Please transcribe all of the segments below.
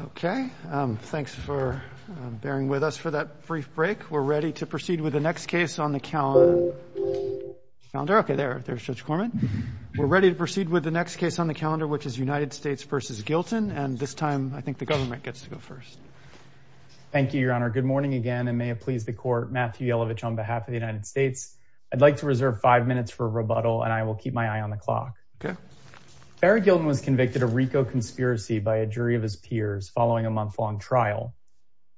Okay, thanks for bearing with us for that brief break. We're ready to proceed with the next case on the calendar. Okay, there there's Judge Corman. We're ready to proceed with the next case on the calendar, which is United States v. Gilton, and this time I think the government gets to go first. Thank you, Your Honor. Good morning again, and may it please the Court. Matthew Yellovich on behalf of the United States. I'd like to reserve five minutes for a rebuttal, and I will keep my eye on the clock. Okay. Barry Gilton was convicted of RICO conspiracy by a jury of his peers following a month-long trial.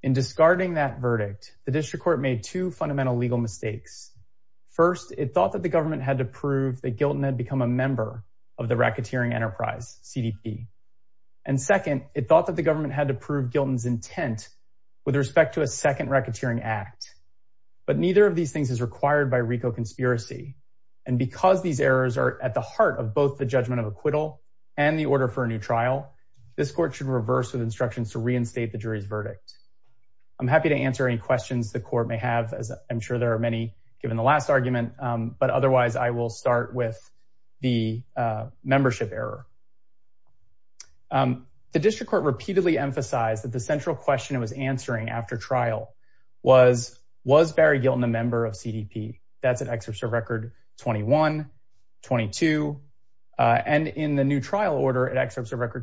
In discarding that verdict, the district court made two fundamental legal mistakes. First, it thought that the government had to prove that Gilton had become a member of the racketeering enterprise, CDP. And second, it thought that the government had to prove Gilton's intent with respect to a second racketeering act. But neither of these things is required by RICO conspiracy, and because these errors are at the heart of both the judgment of acquittal and the order for a new trial, this court should reverse with instructions to reinstate the jury's verdict. I'm happy to answer any questions the court may have, as I'm sure there are many given the last argument, but otherwise I will start with the membership error. The district court repeatedly emphasized that the central question it was answering after trial was, was Barry excerpts of record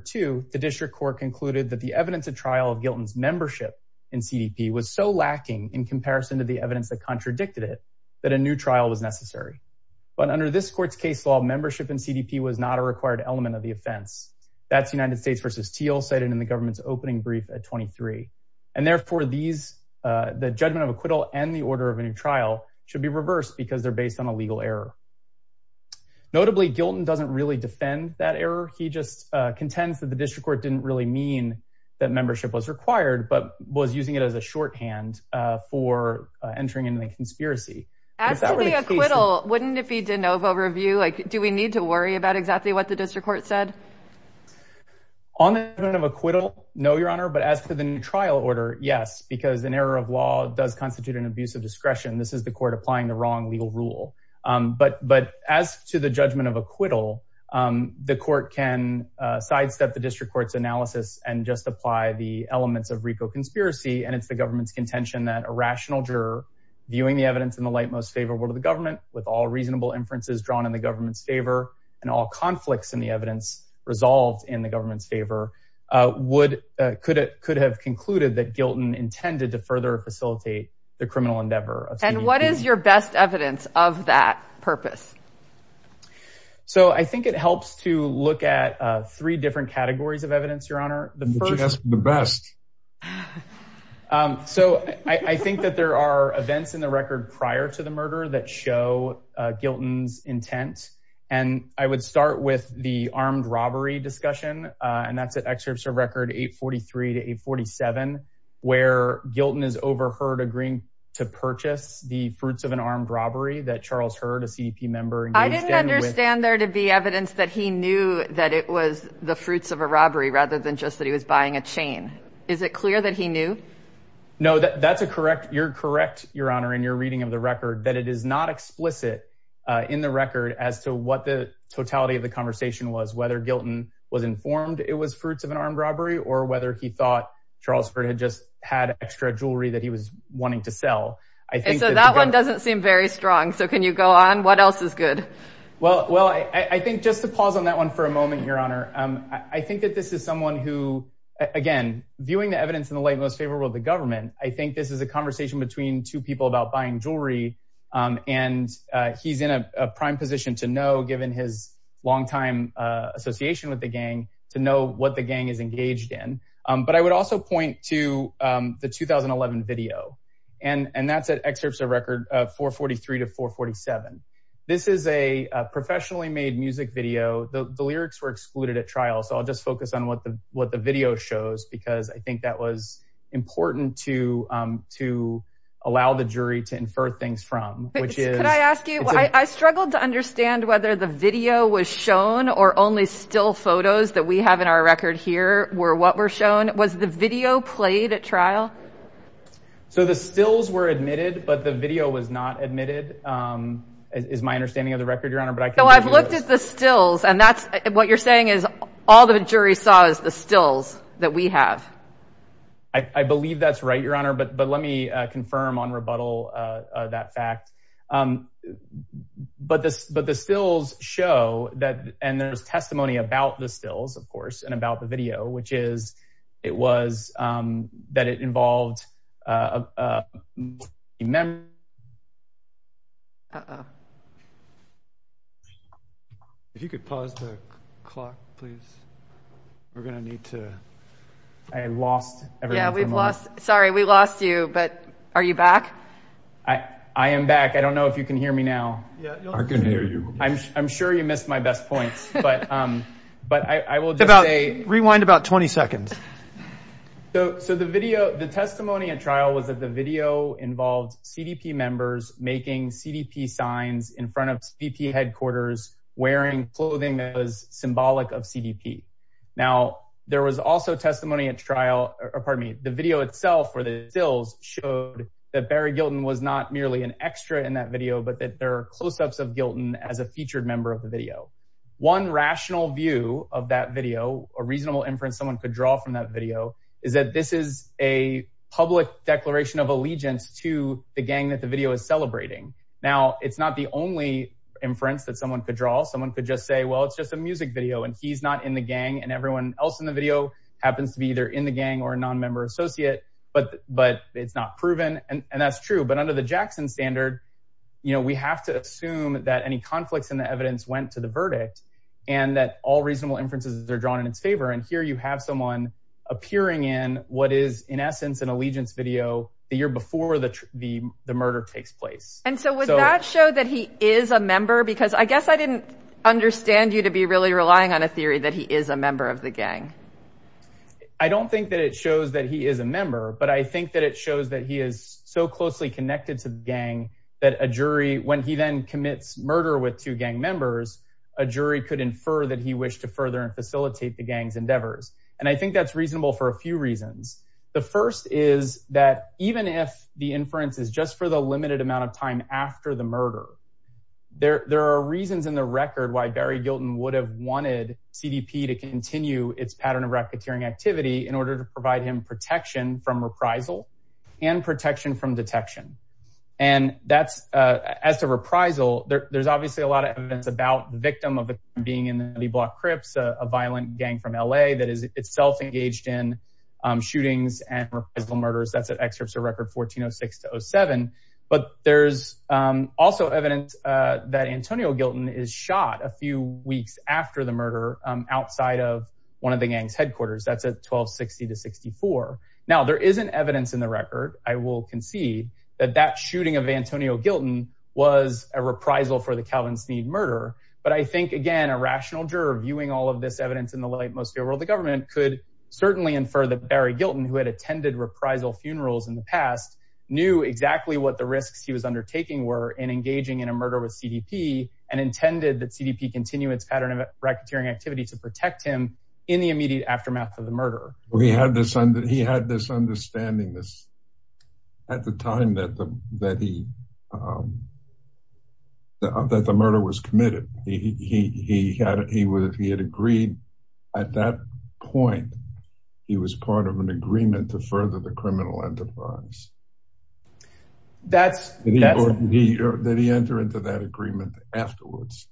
two, the district court concluded that the evidence of trial of Gilton's membership in CDP was so lacking in comparison to the evidence that contradicted it, that a new trial was necessary. But under this court's case law, membership in CDP was not a required element of the offense. That's United States versus Teal cited in the government's opening brief at 23. And therefore these, the judgment of acquittal and the order of a new trial should be reversed because they're based on a legal error. Notably, Gilton doesn't really defend that error. He just contends that the district court didn't really mean that membership was required, but was using it as a shorthand, uh, for, uh, entering into the conspiracy. Wouldn't it be DeNovo review? Like, do we need to worry about exactly what the district court said? On the judgment of acquittal? No, your honor. But as for the new trial order, yes, because an error of law does constitute an abuse of discretion. This is the court applying the wrong legal rule. Um, but, but as to the judgment of acquittal, um, the court can, uh, sidestep the district court's analysis and just apply the elements of Rico conspiracy. And it's the government's contention that a rational juror viewing the evidence in the light, most favorable to the government with all reasonable inferences drawn in the government's favor and all conflicts in the evidence resolved in the government's favor, uh, would, uh, could it could have concluded that Gilton intended to further facilitate the criminal endeavor. And what is your best evidence of that purpose? So I think it helps to look at, uh, three different categories of evidence, your honor. The first is the best. Um, so I think that there are events in the record prior to the murder that show, uh, Gilton's intent. And I would start with the armed robbery discussion. Uh, and that's an excerpt of record eight 43 to eight 47, where Gilton is overheard agreeing to purchase the fruits of an armed robbery that Charles heard a CEP member. I didn't understand there to be evidence that he knew that it was the fruits of a robbery rather than just that he was buying a chain. Is it clear that he knew? No, that's a correct. You're correct. Your honor. And you're reading of the record that it is not explicit, uh, in the record as to what the totality of the conversation was, whether Gilton was informed it was fruits of an armed robbery or whether he thought Charles had just had extra jewelry that he was wanting to sell. I think that that one doesn't seem very strong. So can you go on? What else is good? Well, well, I, I think just to pause on that one for a moment, your honor. Um, I think that this is someone who, again, viewing the evidence in the light, most favorable to the government. I think this is a conversation between two people about buying jewelry. Um, and, uh, he's in a prime position to know, given his long time, uh, association with the gang to know what the gang is engaged in. Um, but I would also point to, um, the 2011 video and, and that's excerpts of record, uh, four 43 to four 47. This is a professionally made music video. The lyrics were excluded at trial. So I'll just focus on what the, what the video shows, because I think that was important to, um, to allow the jury to infer things from, which is, can I ask you, I struggled to understand whether the video was shown or only still photos that we have in our record here were what were shown was the video played at trial. So the stills were admitted, but the video was not admitted. Um, is my understanding of the record, your honor. But I can't look at the stills. And that's what you're saying is all the jury saw is the stills that we have. I believe that's right, your honor. But, but let me confirm on rebuttal, uh, uh, that fact. Um, but this, but the stills show that, and there's testimony about the stills, of course, and about the video, which is, it was, um, that it involved, uh, uh, uh, uh, uh, if you could pause the clock, please, we're going to need to, I lost, sorry, we lost you, but are you back? I am back. I don't know if you can hear me now. I'm sure you missed my best points, but, um, but I will just say rewind about 20 seconds. So, so the video, the testimony at trial was that the video involved CDP members making CDP signs in front of VP headquarters, wearing clothing that was symbolic of CDP. Now there was also testimony at trial, or pardon me, the video itself where the stills showed that Barry Gilton was not merely an extra in that video, but that there are closeups of Gilton as a featured member of the video. One rational view of that video, a reasonable inference someone could draw from that video is that this is a public declaration of allegiance to the gang that the video is celebrating. Now it's not the only inference that someone could draw. Someone could just say, well, it's just a music video and he's not in the gang and everyone else in the video happens to be either in the gang or a non-member associate, but, but it's not proven. And that's true. But under the Jackson standard, you know, we have to assume that any conflicts in the evidence went to the verdict and that all reasonable inferences are drawn in its favor. And here you have someone appearing in what is in essence, an allegiance video the year before the, the, the murder takes place. And so would that show that he is a member? Because I guess I didn't understand you to be really relying on a theory that he is a member of the gang. I don't think that it shows that he is a member, but I think that it shows that he is so closely connected to the gang that a jury, when he then commits murder with two gang members, a jury could infer that he wished to further facilitate the gang's endeavors. And I think that's reasonable for a few reasons. The first is that even if the inference is just for the limited amount of time after the murder, there, there are reasons in the record why Barry Gilton would have wanted CDP to continue its pattern of racketeering activity in order to provide him protection from reprisal and protection from detection. And that's as to reprisal there, there's obviously a lot of evidence about the victim of being in the block Cripps, a violent gang from LA that is itself engaged in shootings and reprisal murders. That's an excerpt of record 1406 to 07, but there's also evidence that Antonio Gilton is shot a few weeks after the murder outside of one of the gang's Now there isn't evidence in the record. I will concede that that shooting of Antonio Gilton was a reprisal for the Calvin Sneed murder. But I think again, a rational juror viewing all of this evidence in the light, most of the world, the government could certainly infer that Barry Gilton, who had attended reprisal funerals in the past, knew exactly what the risks he was undertaking were in engaging in a murder with CDP and intended that CDP continue its pattern of racketeering activity to protect him in the immediate aftermath of the murder. Well, he had this understanding at the time that the murder was committed. He had agreed at that point, he was part of an agreement to further the criminal enterprise. That's... That he entered into that agreement afterwards.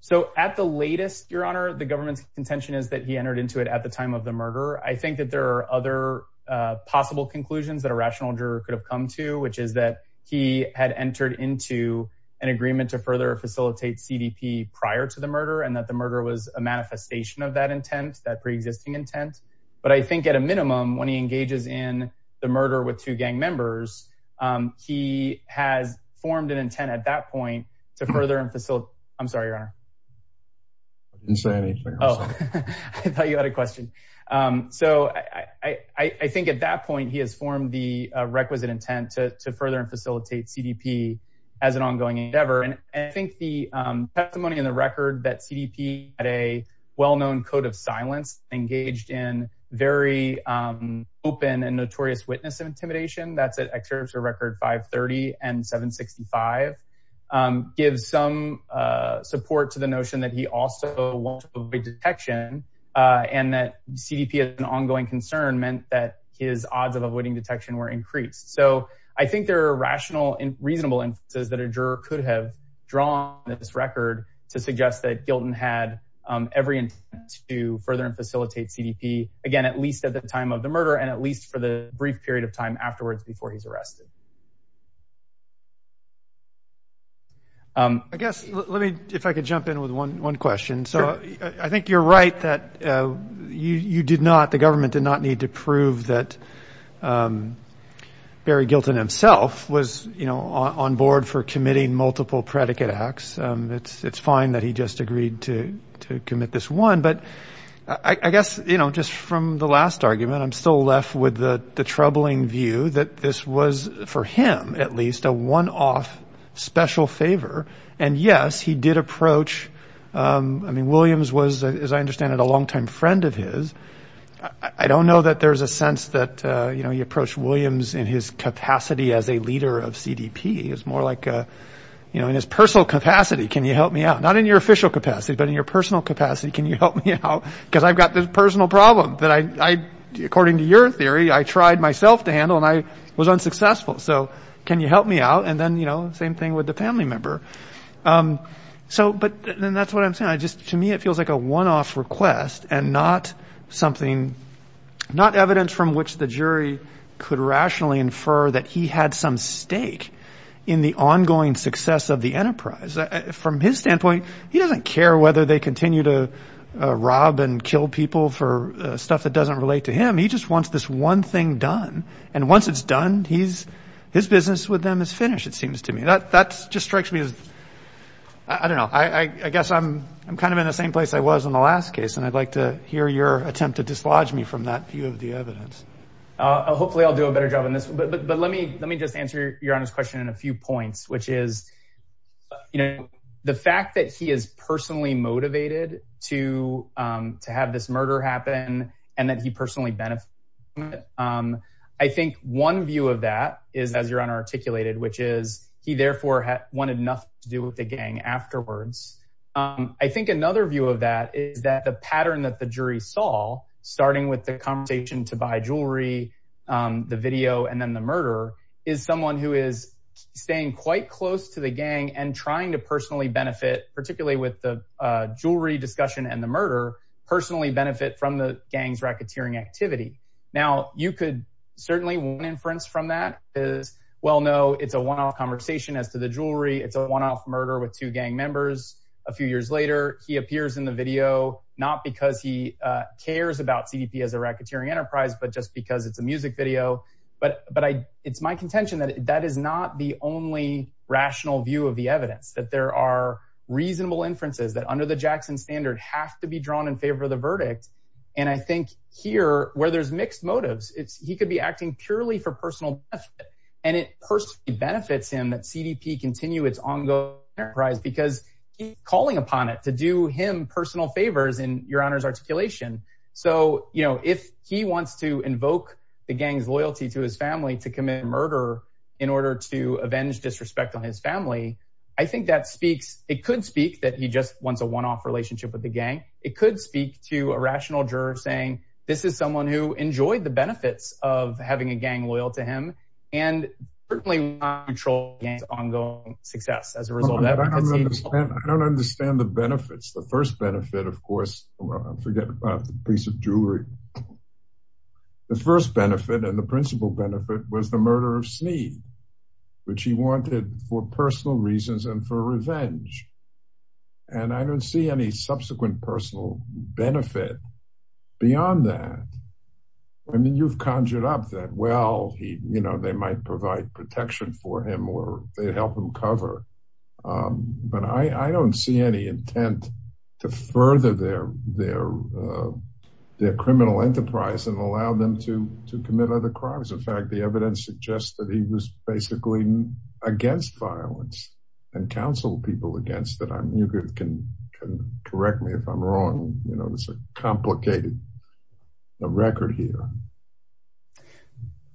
So at the latest, Your Honor, the government's contention is that he entered into it at the time of the murder. I think that there are other possible conclusions that a rational juror could have come to, which is that he had entered into an agreement to further facilitate CDP prior to the murder and that the murder was a manifestation of that intent, that pre-existing intent. But I think at a minimum, when he engages in the murder with two gang members, he has formed an intent at that point to further and facilitate... I'm sorry, Your Honor. I didn't say anything. Oh, I thought you had a question. So I think at that point, he has formed the requisite intent to further and facilitate CDP as an ongoing endeavor. And I think the testimony in the record that CDP had a well-known code of silence, engaged in very open and notorious witness of intimidation, that's at Excerpture Record 530 and 765, gives some support to the notion that he also won't avoid detection and that CDP as an ongoing concern meant that his odds of avoiding detection were increased. So I think there are rational and reasonable instances that a juror could have drawn this record to suggest that Gilton had every intent to further and facilitate CDP, again, at least at the time of the murder and at least for the brief period of time afterwards before he's arrested. I guess, if I could jump in with one question. So I think you're right that the government did not need to prove that Barry Gilton himself was on board for committing multiple predicate acts. It's fine that he just agreed to commit this one. But I guess, just from the last argument, I'm still left with the troubling view that this was, for him at least, a one-off special favor. And yes, he did approach, I mean, Williams was, as I understand it, a longtime friend of his. I don't know that there's a sense that you approach Williams in his capacity as a leader of CDP. It's more like in his personal capacity, can you help me out? Not in your official capacity, but in your personal capacity, can you help me out? Because I've got this personal problem that I, according to your theory, I tried myself to handle and I was unsuccessful. So can you help me out? And then, you know, same thing with the family member. So, but then that's what I'm saying. I just, to me, it feels like a one-off request and not something, not evidence from which the jury could rationally infer that he had some stake in the ongoing success of the enterprise. From his standpoint, he doesn't care whether they continue to rob and kill people for stuff that doesn't relate to him. He just wants this one thing done. And once it's done, he's, his business with them is finished, it seems to me. That just strikes me as, I don't know, I guess I'm kind of in the same place I was in the last case. And I'd like to hear your attempt to dislodge me from that view of the evidence. Hopefully I'll do a better job on this. But let me just answer your honest question in a few points, which is, you know, the fact that he is personally motivated to have this murder happen and that he personally benefited from it. I think one view of that is, as your Honor articulated, which is he therefore wanted nothing to do with the gang afterwards. I think another view of that is that the pattern that the jury saw, starting with the conversation to buy jewelry, the video, and then the murder is someone who is staying quite close to the gang and trying to personally benefit, particularly with the jewelry discussion and the murder, personally benefit from the gang's racketeering activity. Now you could certainly one inference from that is, well, no, it's a one-off conversation as to the jewelry. It's a one-off murder with two gang members. A few years later, he appears in the video, not because he cares about CDP as a racketeering enterprise, but just because it's a music video. But it's my contention that that is not the only rational view of the evidence, that there are reasonable inferences that under the Jackson standard have to be drawn in favor of the verdict. And I think here where there's mixed motives, he could be acting purely for personal benefit, and it personally benefits him that CDP continue its ongoing enterprise because he's calling upon it to do him personal favors in your Honor's articulation. So, you know, he wants to invoke the gang's loyalty to his family to commit murder in order to avenge disrespect on his family. I think that speaks, it could speak that he just wants a one-off relationship with the gang. It could speak to a rational juror saying, this is someone who enjoyed the benefits of having a gang loyal to him and certainly want to control the gang's ongoing success as a result of that. I don't understand the benefits. The first benefit, of course, forget about the piece of jewelry. The first benefit and the principal benefit was the murder of Sneed, which he wanted for personal reasons and for revenge. And I don't see any subsequent personal benefit beyond that. I mean, you've conjured up that, well, he, you know, they might provide protection for him or they help him cover. But I don't see any intent to further their their criminal enterprise and allow them to commit other crimes. In fact, the evidence suggests that he was basically against violence and counseled people against it. You can correct me if I'm wrong. You know, it's a complicated record here.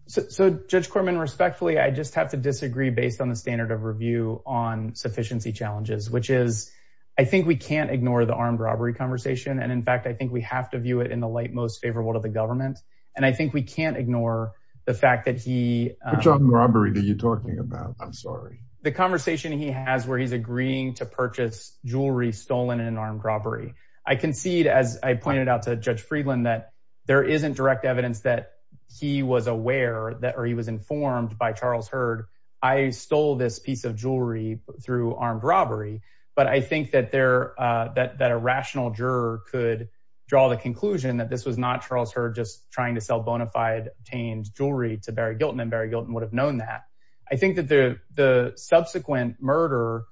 So Judge Corman, respectfully, I just have to disagree based on the standard of review on sufficiency challenges, which is, I think we can't ignore the armed robbery conversation. And in fact, I think we have to view it in the light, most favorable to the government. And I think we can't ignore the fact that he. Which armed robbery are you talking about? I'm sorry. The conversation he has where he's agreeing to purchase jewelry stolen in an armed robbery. I concede, as I pointed out to Judge Friedland, that there isn't direct evidence that he was aware that or he was informed by Charles Heard. I stole this piece of jewelry through armed robbery. But I think that there that that a rational juror could draw the conclusion that this was not Charles Heard just trying to sell bonafide obtained jewelry to Barry Gilton and Barry Gilton would have known that. I think that the subsequent murder,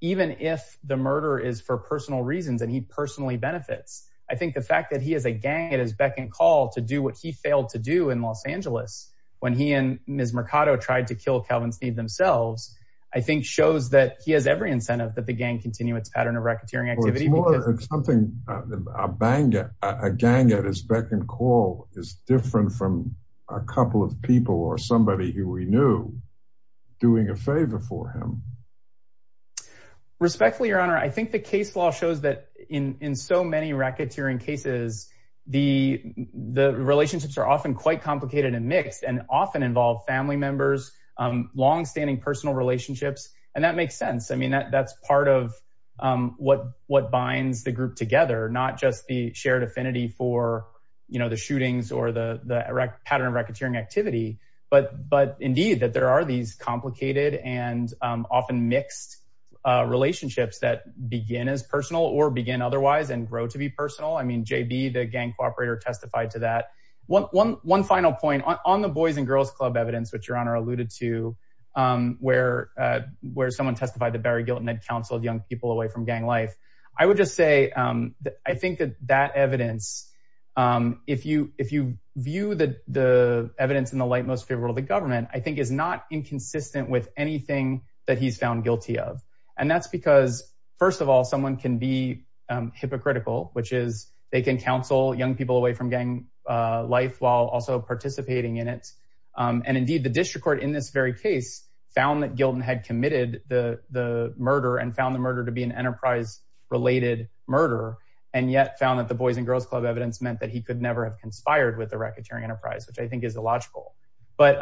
even if the murder is for personal reasons and he personally benefits, I think the fact that he has a gang at his beck and call to do what he failed to do in Los Angeles when he and Ms. Mercado tried to kill Calvin Sneed themselves, I think shows that he has every incentive that the gang continue its pattern of racketeering activity. It's something a gang at his beck and call is different from a couple of people or somebody who we knew doing a favor for him. Respectfully, Your Honor, I think the case law shows that in so many racketeering cases, the relationships are often quite complicated and mixed and often involve family members, longstanding personal relationships. And that makes sense. I mean, that's part of what binds the group together, not just the shared affinity for the shootings or the pattern of racketeering activity. But indeed, that there are these complicated and often mixed relationships that begin as personal or begin otherwise and grow to be personal. I mean, JB, the gang cooperator, testified to that. One final point on the Boys and Girls Club evidence, which Your Honor alluded to, where someone testified that Barry Gilton had counseled young people away from gang life. I would just say that I think that that evidence, if you view the evidence in the light most favorable of the government, I think is not consistent with anything that he's found guilty of. And that's because, first of all, someone can be hypocritical, which is they can counsel young people away from gang life while also participating in it. And indeed, the district court in this very case found that Gilton had committed the murder and found the murder to be an enterprise-related murder, and yet found that the Boys and Girls Club evidence meant that he could never have conspired with the racketeering enterprise, which I think is illogical. But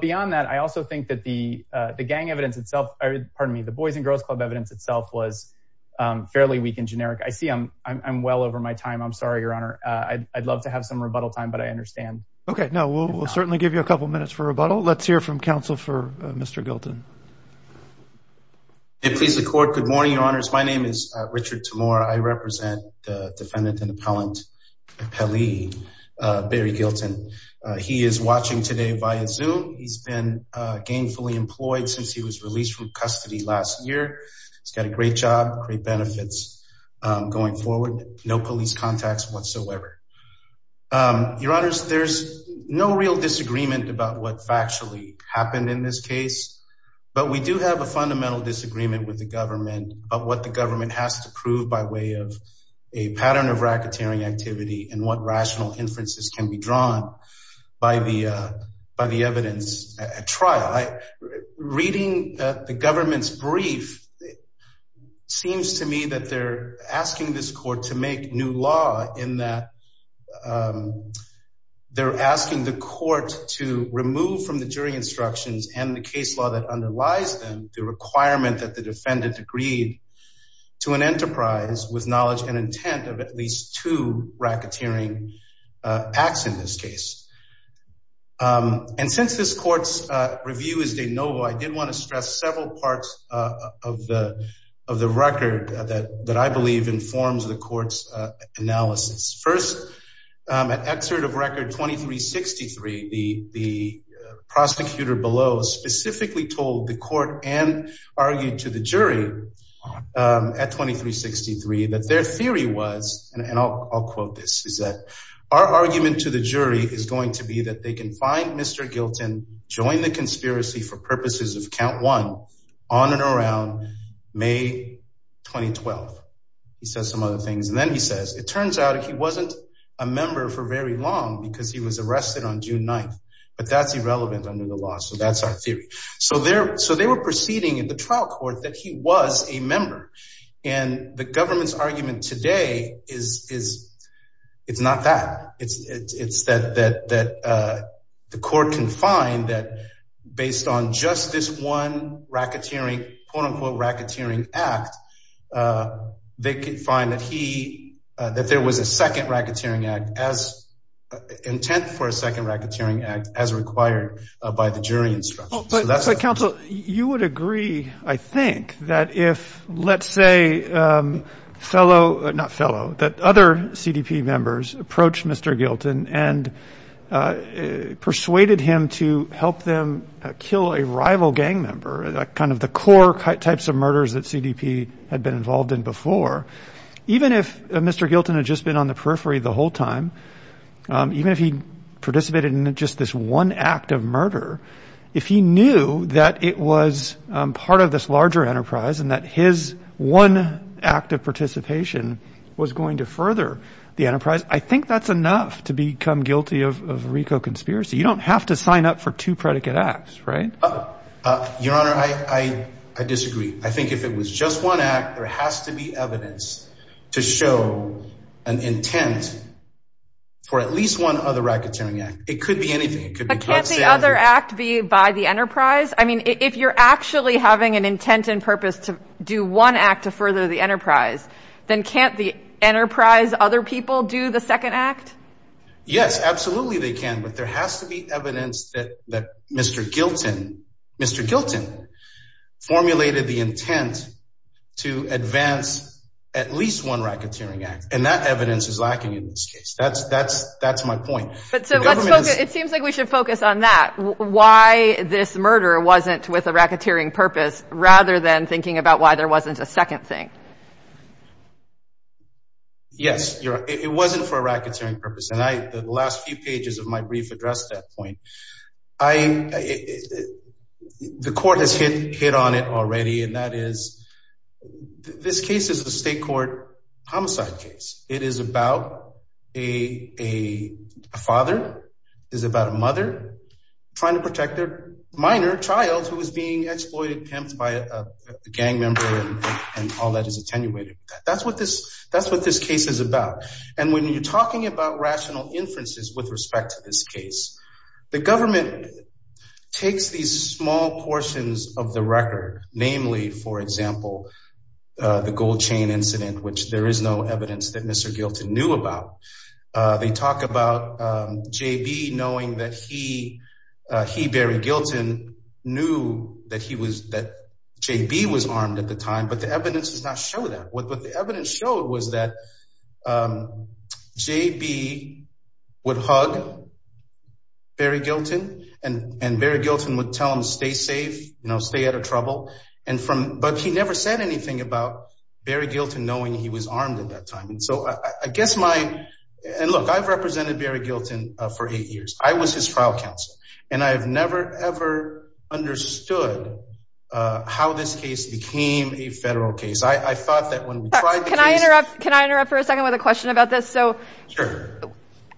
beyond that, I also think that the gang evidence itself, pardon me, the Boys and Girls Club evidence itself was fairly weak and generic. I see I'm well over my time. I'm sorry, Your Honor. I'd love to have some rebuttal time, but I understand. Okay, no, we'll certainly give you a couple minutes for rebuttal. Let's hear from counsel for Mr. Gilton. Please record. Good morning, Your Honors. My name is Richard Tamora. I represent the defendant and appellant, Perry Gilton. He is watching today via Zoom. He's been gainfully employed since he was released from custody last year. He's got a great job, great benefits going forward. No police contacts whatsoever. Your Honors, there's no real disagreement about what factually happened in this case, but we do have a fundamental disagreement with the government about what the government has to prove by way of a pattern of racketeering activity and what rational inferences can be drawn by the evidence at trial. Reading the government's brief, it seems to me that they're asking this court to make new law in that they're asking the court to remove from the jury instructions and the case law that underlies them the requirement that the defendant agreed to an enterprise with knowledge and intent of at least two racketeering acts in this case. And since this court's review is de novo, I did want to stress several parts of the record that I believe informs the court's analysis. First, at excerpt of record 2363, the prosecutor below specifically told the court and argued to the jury at 2363 that their theory was, and I'll quote this, is that our argument to the jury is going to be that they can find Mr. Gilton, join the conspiracy for purposes of count one on and around May 2012. He says some other things. And then he says, it turns out he wasn't a member for very long because he was arrested on June 9th, but that's irrelevant under the law. So that's our theory. So they were proceeding in the trial court that he was a member. And the government's argument today is it's not that. It's that the court can find that based on just this one racketeering, quote unquote, racketeering act, they could find that he, that there was a second racketeering act as intent for a second racketeering act as required by the jury instruction. But counsel, you would agree, I think, that if, let's say, fellow, not fellow, that other CDP members approach Mr. Gilton and persuaded him to help them kill a rival gang member, kind of the core types of murders that CDP had been involved in before, even if Mr. Gilton had just been on the periphery the whole time, even if he participated in just this one act of murder, if he knew that it was part of this larger enterprise and that his one act of participation was going to further the enterprise, I think that's enough to become guilty of RICO conspiracy. You don't have to sign up for two predicate acts, right? Your Honor, I disagree. I think if it was just one act, there has to be evidence to show an intent for at least one other racketeering act. It could be anything. But can't the other act be by the enterprise? I mean, if you're actually having an intent and purpose to do one act to further the enterprise, then can't the enterprise other people do the Mr. Gilton formulated the intent to advance at least one racketeering act? And that evidence is lacking in this case. That's my point. It seems like we should focus on that, why this murder wasn't with a racketeering purpose, rather than thinking about why there wasn't a second thing. Yes, Your Honor, it wasn't for a racketeering purpose. And the last few pages of my brief address that point, the court has hit on it already. And that is, this case is a state court homicide case. It is about a father, is about a mother trying to protect their minor child who was being exploited, pimped by a gang member, and all that is attenuated. That's what this case is about. And when you're talking about the government takes these small portions of the record, namely, for example, the gold chain incident, which there is no evidence that Mr. Gilton knew about. They talk about JB knowing that he buried Gilton, knew that JB was armed at the time, but the evidence does not show that. What the evidence showed was that Barry Gilton, and Barry Gilton would tell him stay safe, stay out of trouble. But he never said anything about Barry Gilton knowing he was armed at that time. And so I guess my, and look, I've represented Barry Gilton for eight years. I was his trial counsel. And I've never, ever understood how this case became a federal case. I thought that when we tried the case- Can I interrupt? Can I interrupt for a second with a question about this? Sure.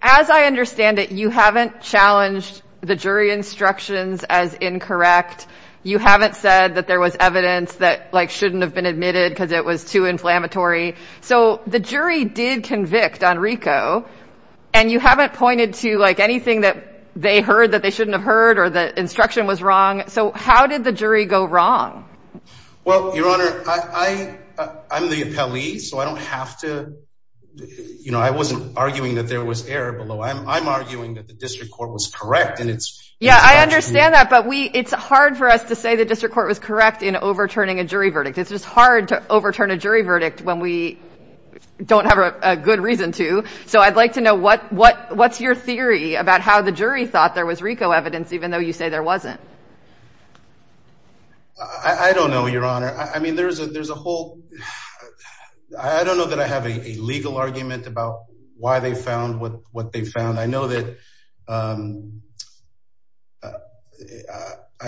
As I understand it, you haven't challenged the jury instructions as incorrect. You haven't said that there was evidence that shouldn't have been admitted because it was too inflammatory. So the jury did convict Enrico, and you haven't pointed to anything that they heard that they shouldn't have heard or the instruction was wrong. So how did the jury go wrong? Well, Your Honor, I'm the appellee, so I don't have to, you know, I wasn't arguing that there was error below. I'm arguing that the district court was correct. And it's- Yeah, I understand that. But we, it's hard for us to say the district court was correct in overturning a jury verdict. It's just hard to overturn a jury verdict when we don't have a good reason to. So I'd like to know what's your theory about how the jury thought there was RICO evidence, even though you say there wasn't. I don't know, Your Honor. I mean, there's a whole, I don't know that I have a legal argument about why they found what they found. I know that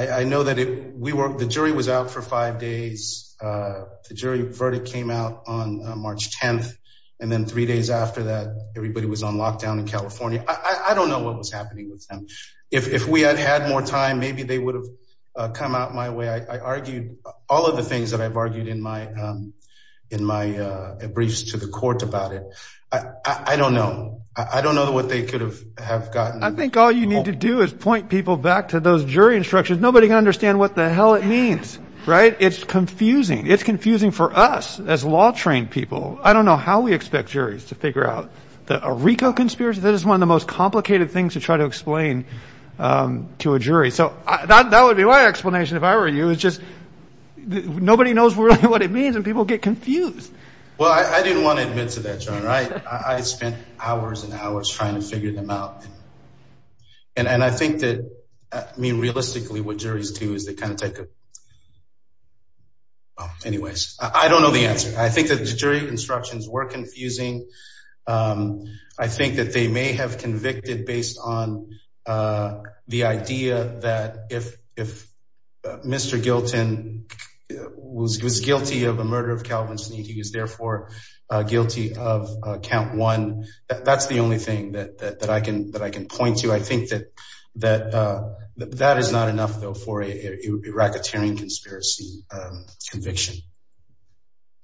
the jury was out for five days. The jury verdict came out on March 10th. And then three days after that, everybody was on lockdown in California. I don't know what was happening with them. If we had had more time, maybe they would have come out my way. I argued all of the things that I've argued in my briefs to the court about it. I don't know. I don't know what they could have gotten. I think all you need to do is point people back to those jury instructions. Nobody can understand what the hell it means, right? It's confusing. It's confusing for us as law people. I don't know how we expect juries to figure out that a RICO conspiracy, that is one of the most complicated things to try to explain to a jury. So that would be my explanation if I were you. It's just nobody knows what it means and people get confused. Well, I didn't want to admit to that, Your Honor. I spent hours and hours trying to figure them out. And I think that, I mean, realistically, what juries do is they kind of take a... Anyways, I don't know the answer. I think that the jury instructions were confusing. I think that they may have convicted based on the idea that if Mr. Gilton was guilty of the murder of Calvin Sneed, he was therefore guilty of count one. That's the only thing that I can point to. I think that that is not enough, though, for a racketeering conspiracy conviction.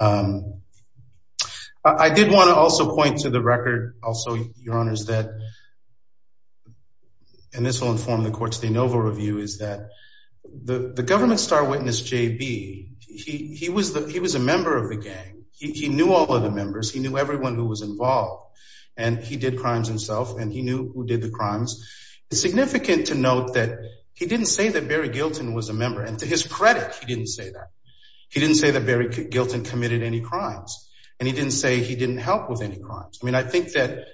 I did want to also point to the record also, Your Honors, that, and this will inform the court's de novo review, is that the government's star witness, JB, he was a member of the gang. He knew all of the members. He knew everyone who was involved. And he did crimes himself. And he knew who did the crimes. It's significant to note that he didn't say that Barry Gilton was a member. And to his credit, he didn't say that. He didn't say that Barry Gilton committed any crimes. And he didn't say he didn't help with any crimes. I mean, I think that,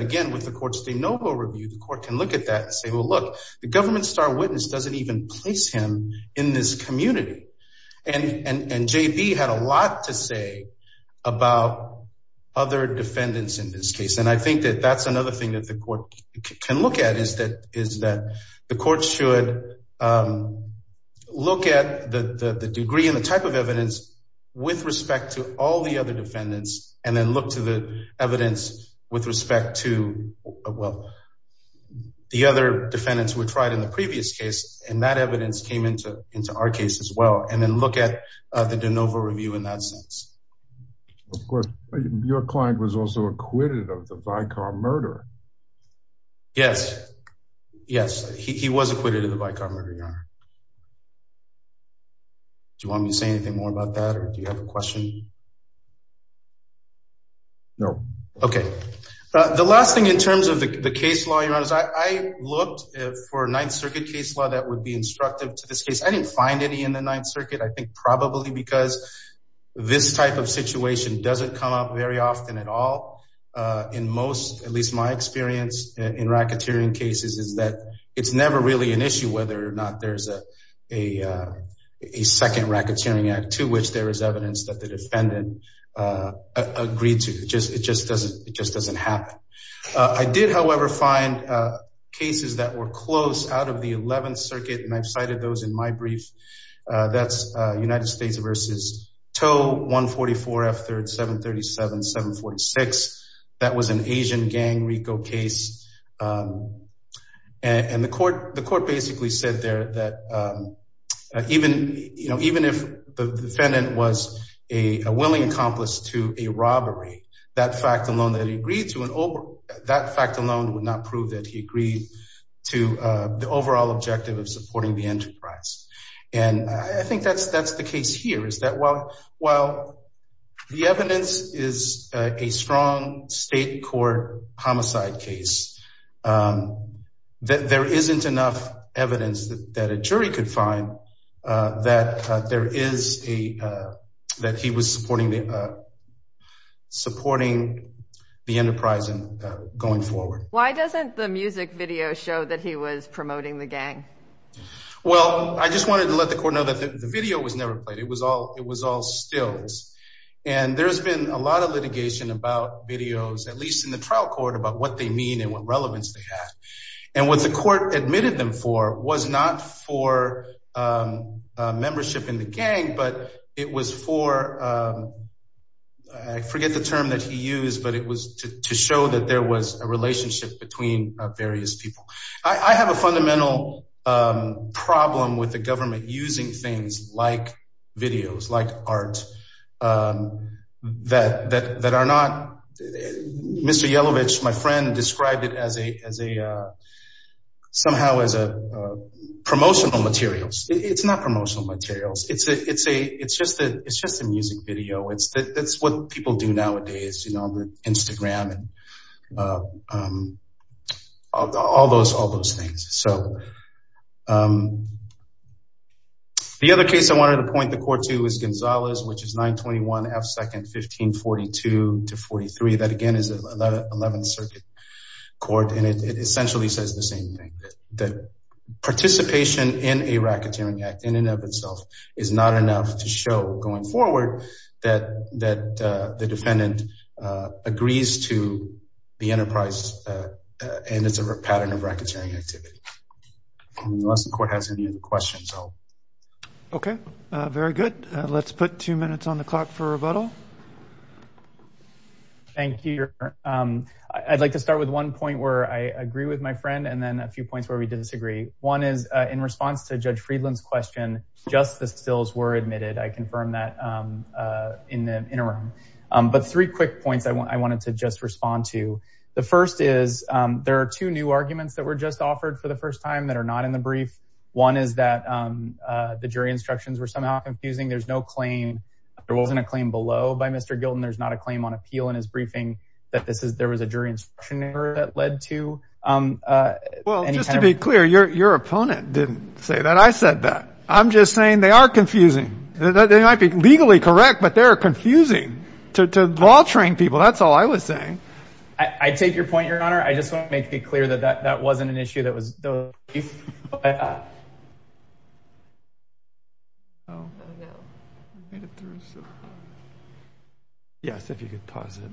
again, with the court's de novo review, the court can look at that and say, well, look, the government's star witness doesn't even place him in this community. And JB had a lot to say about other defendants in this case. And I think that that's another thing that the court can look at, is that the court should look at the degree and the type of evidence with respect to all the other defendants and then look to the evidence with respect to, well, the other defendants who were tried in the previous case. And that evidence came into our case as well. And then look at the de novo review in that sense. Of course. Your client was also acquitted of the Vicar murder. Yes. Yes. He was acquitted of the Vicar murder, Your Honor. Do you want me to say anything more about that? Or do you have a question? No. Okay. The last thing in terms of the case law, Your Honor, is I looked for a Ninth Circuit case law that would be instructive to this case. I didn't find any in the Ninth Circuit, I think probably because this type of situation doesn't come up very often at all. In most, at least my experience in racketeering cases, is that it's never really an issue whether or not there's a second racketeering act to which there is evidence that the defendant agreed to. It just doesn't happen. I did, however, find cases that were close out of the Eleventh Circuit, and I've cited those in my brief. That's United States v. Toe, 144F, 737-746. That was an Asian gang rico case. And the court basically said there that even if the defendant was a willing accomplice to a robbery, that fact alone would not prove that he agreed to the overall objective of supporting the enterprise. And I think that's the case here, is that while the evidence is a strong state court homicide case, there isn't enough evidence that a jury could find that there is a, that he was supporting the enterprise going forward. Why doesn't the music video show that he was promoting the gang? Well, I just wanted to let the court know that the video was never played. It was all stills. And there's been a lot of litigation about videos, at least in the trial court, about what they mean and what relevance they have. And what the court admitted them for was not for membership in the gang, but it was for, I forget the term that he used, but it was to show that there was a relationship between various people. I have a fundamental problem with the government using things like it as a, as a, somehow as a promotional materials. It's not promotional materials. It's a, it's a, it's just a, it's just a music video. It's the, that's what people do nowadays, you know, on the Instagram and all those, all those things. So the other case I wanted to point the court to which is 921 F second, 1542 to 43. That again is 11th circuit court. And it essentially says the same thing that participation in a racketeering act in and of itself is not enough to show going forward that, that the defendant agrees to the enterprise and it's a pattern of racketeering activity. Unless the court has any other questions. Okay. Very good. Let's put two minutes on the clock for rebuttal. Thank you. I'd like to start with one point where I agree with my friend and then a few points where we disagree. One is in response to judge Friedland's question, just the stills were admitted. I confirmed that in the interim, but three quick points I wanted to just respond to. The first is there are two new arguments that were just offered for the first time that are not in the brief. One is that the jury instructions were somehow confusing. There's no claim. There wasn't a claim below by Mr. Gilden. There's not a claim on appeal in his briefing that this is, there was a jury instruction error that led to well, just to be clear, your, your opponent didn't say that. I said that I'm just saying they are confusing. They might be I take your point, your honor. I just want to make it clear that that wasn't an issue that was yes. If you could pause it,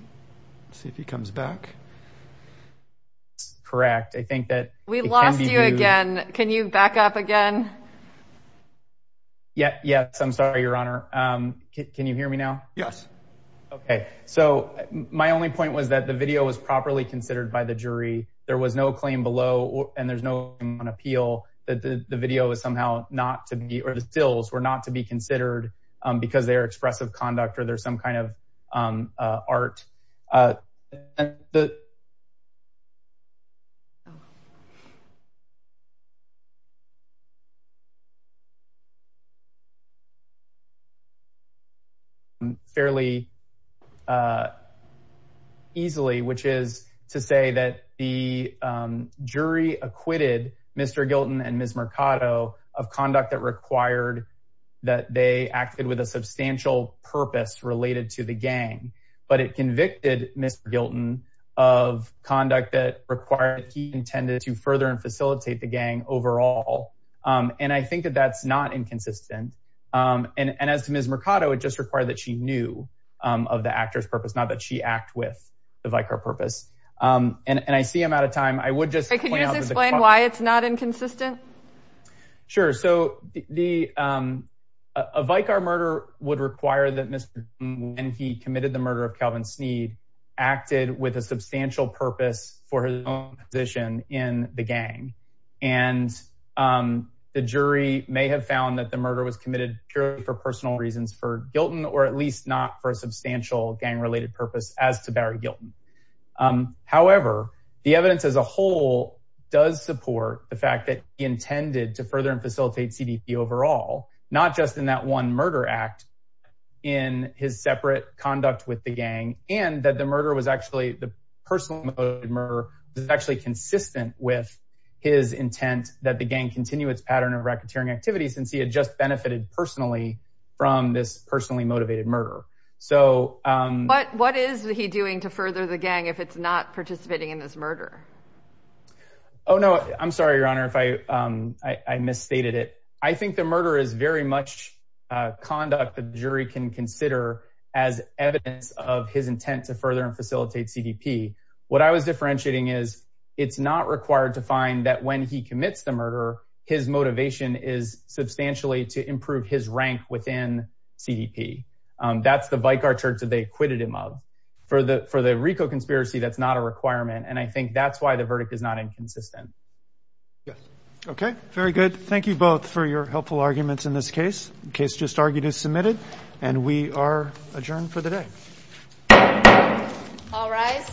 see if he comes back. Correct. I think that we lost you again. Can you back up again? Yeah. Yes. I'm sorry, your honor. Can you hear me now? Yes. Okay. So my only point was that the video was properly considered by the jury. There was no claim below and there's no appeal that the video is somehow not to be, or the stills were not to be considered because they are expressive conduct or there's some kind of art fairly easily, which is to say that the jury acquitted Mr. Gilden and Ms. Mercado of conduct that required that they acted with a substantial purpose related to the gang, but it convicted Mr. Gilden of conduct that required he intended to further and facilitate the gang overall. And I think that that's not inconsistent. And as to Ms. Mercado, it just required that she knew of the actor's purpose, not that she the Vicar purpose. And I see I'm out of time. I would just explain why it's not inconsistent. Sure. So the, a Vicar murder would require that Mr. Gilden when he committed the murder of Calvin Sneed acted with a substantial purpose for his own position in the gang. And the jury may have found that the murder was committed purely for personal reasons for Gilden, or at least not for Barry Gilden. However, the evidence as a whole does support the fact that he intended to further and facilitate CDP overall, not just in that one murder act in his separate conduct with the gang and that the murder was actually the personal motive murder is actually consistent with his intent that the gang continue its pattern of racketeering activities, since he had just doing to further the gang, if it's not participating in this murder. Oh, no, I'm sorry, Your Honor, if I, I misstated it. I think the murder is very much conduct that the jury can consider as evidence of his intent to further and facilitate CDP. What I was differentiating is it's not required to find that when he commits the murder, his motivation is substantially to improve his rank within CDP. That's the Vicar Church that they acquitted him for the for the Rico conspiracy. That's not a requirement. And I think that's why the verdict is not inconsistent. Yes. Okay, very good. Thank you both for your helpful arguments in this case. Case just argued is submitted. And we are adjourned for the day. All rise.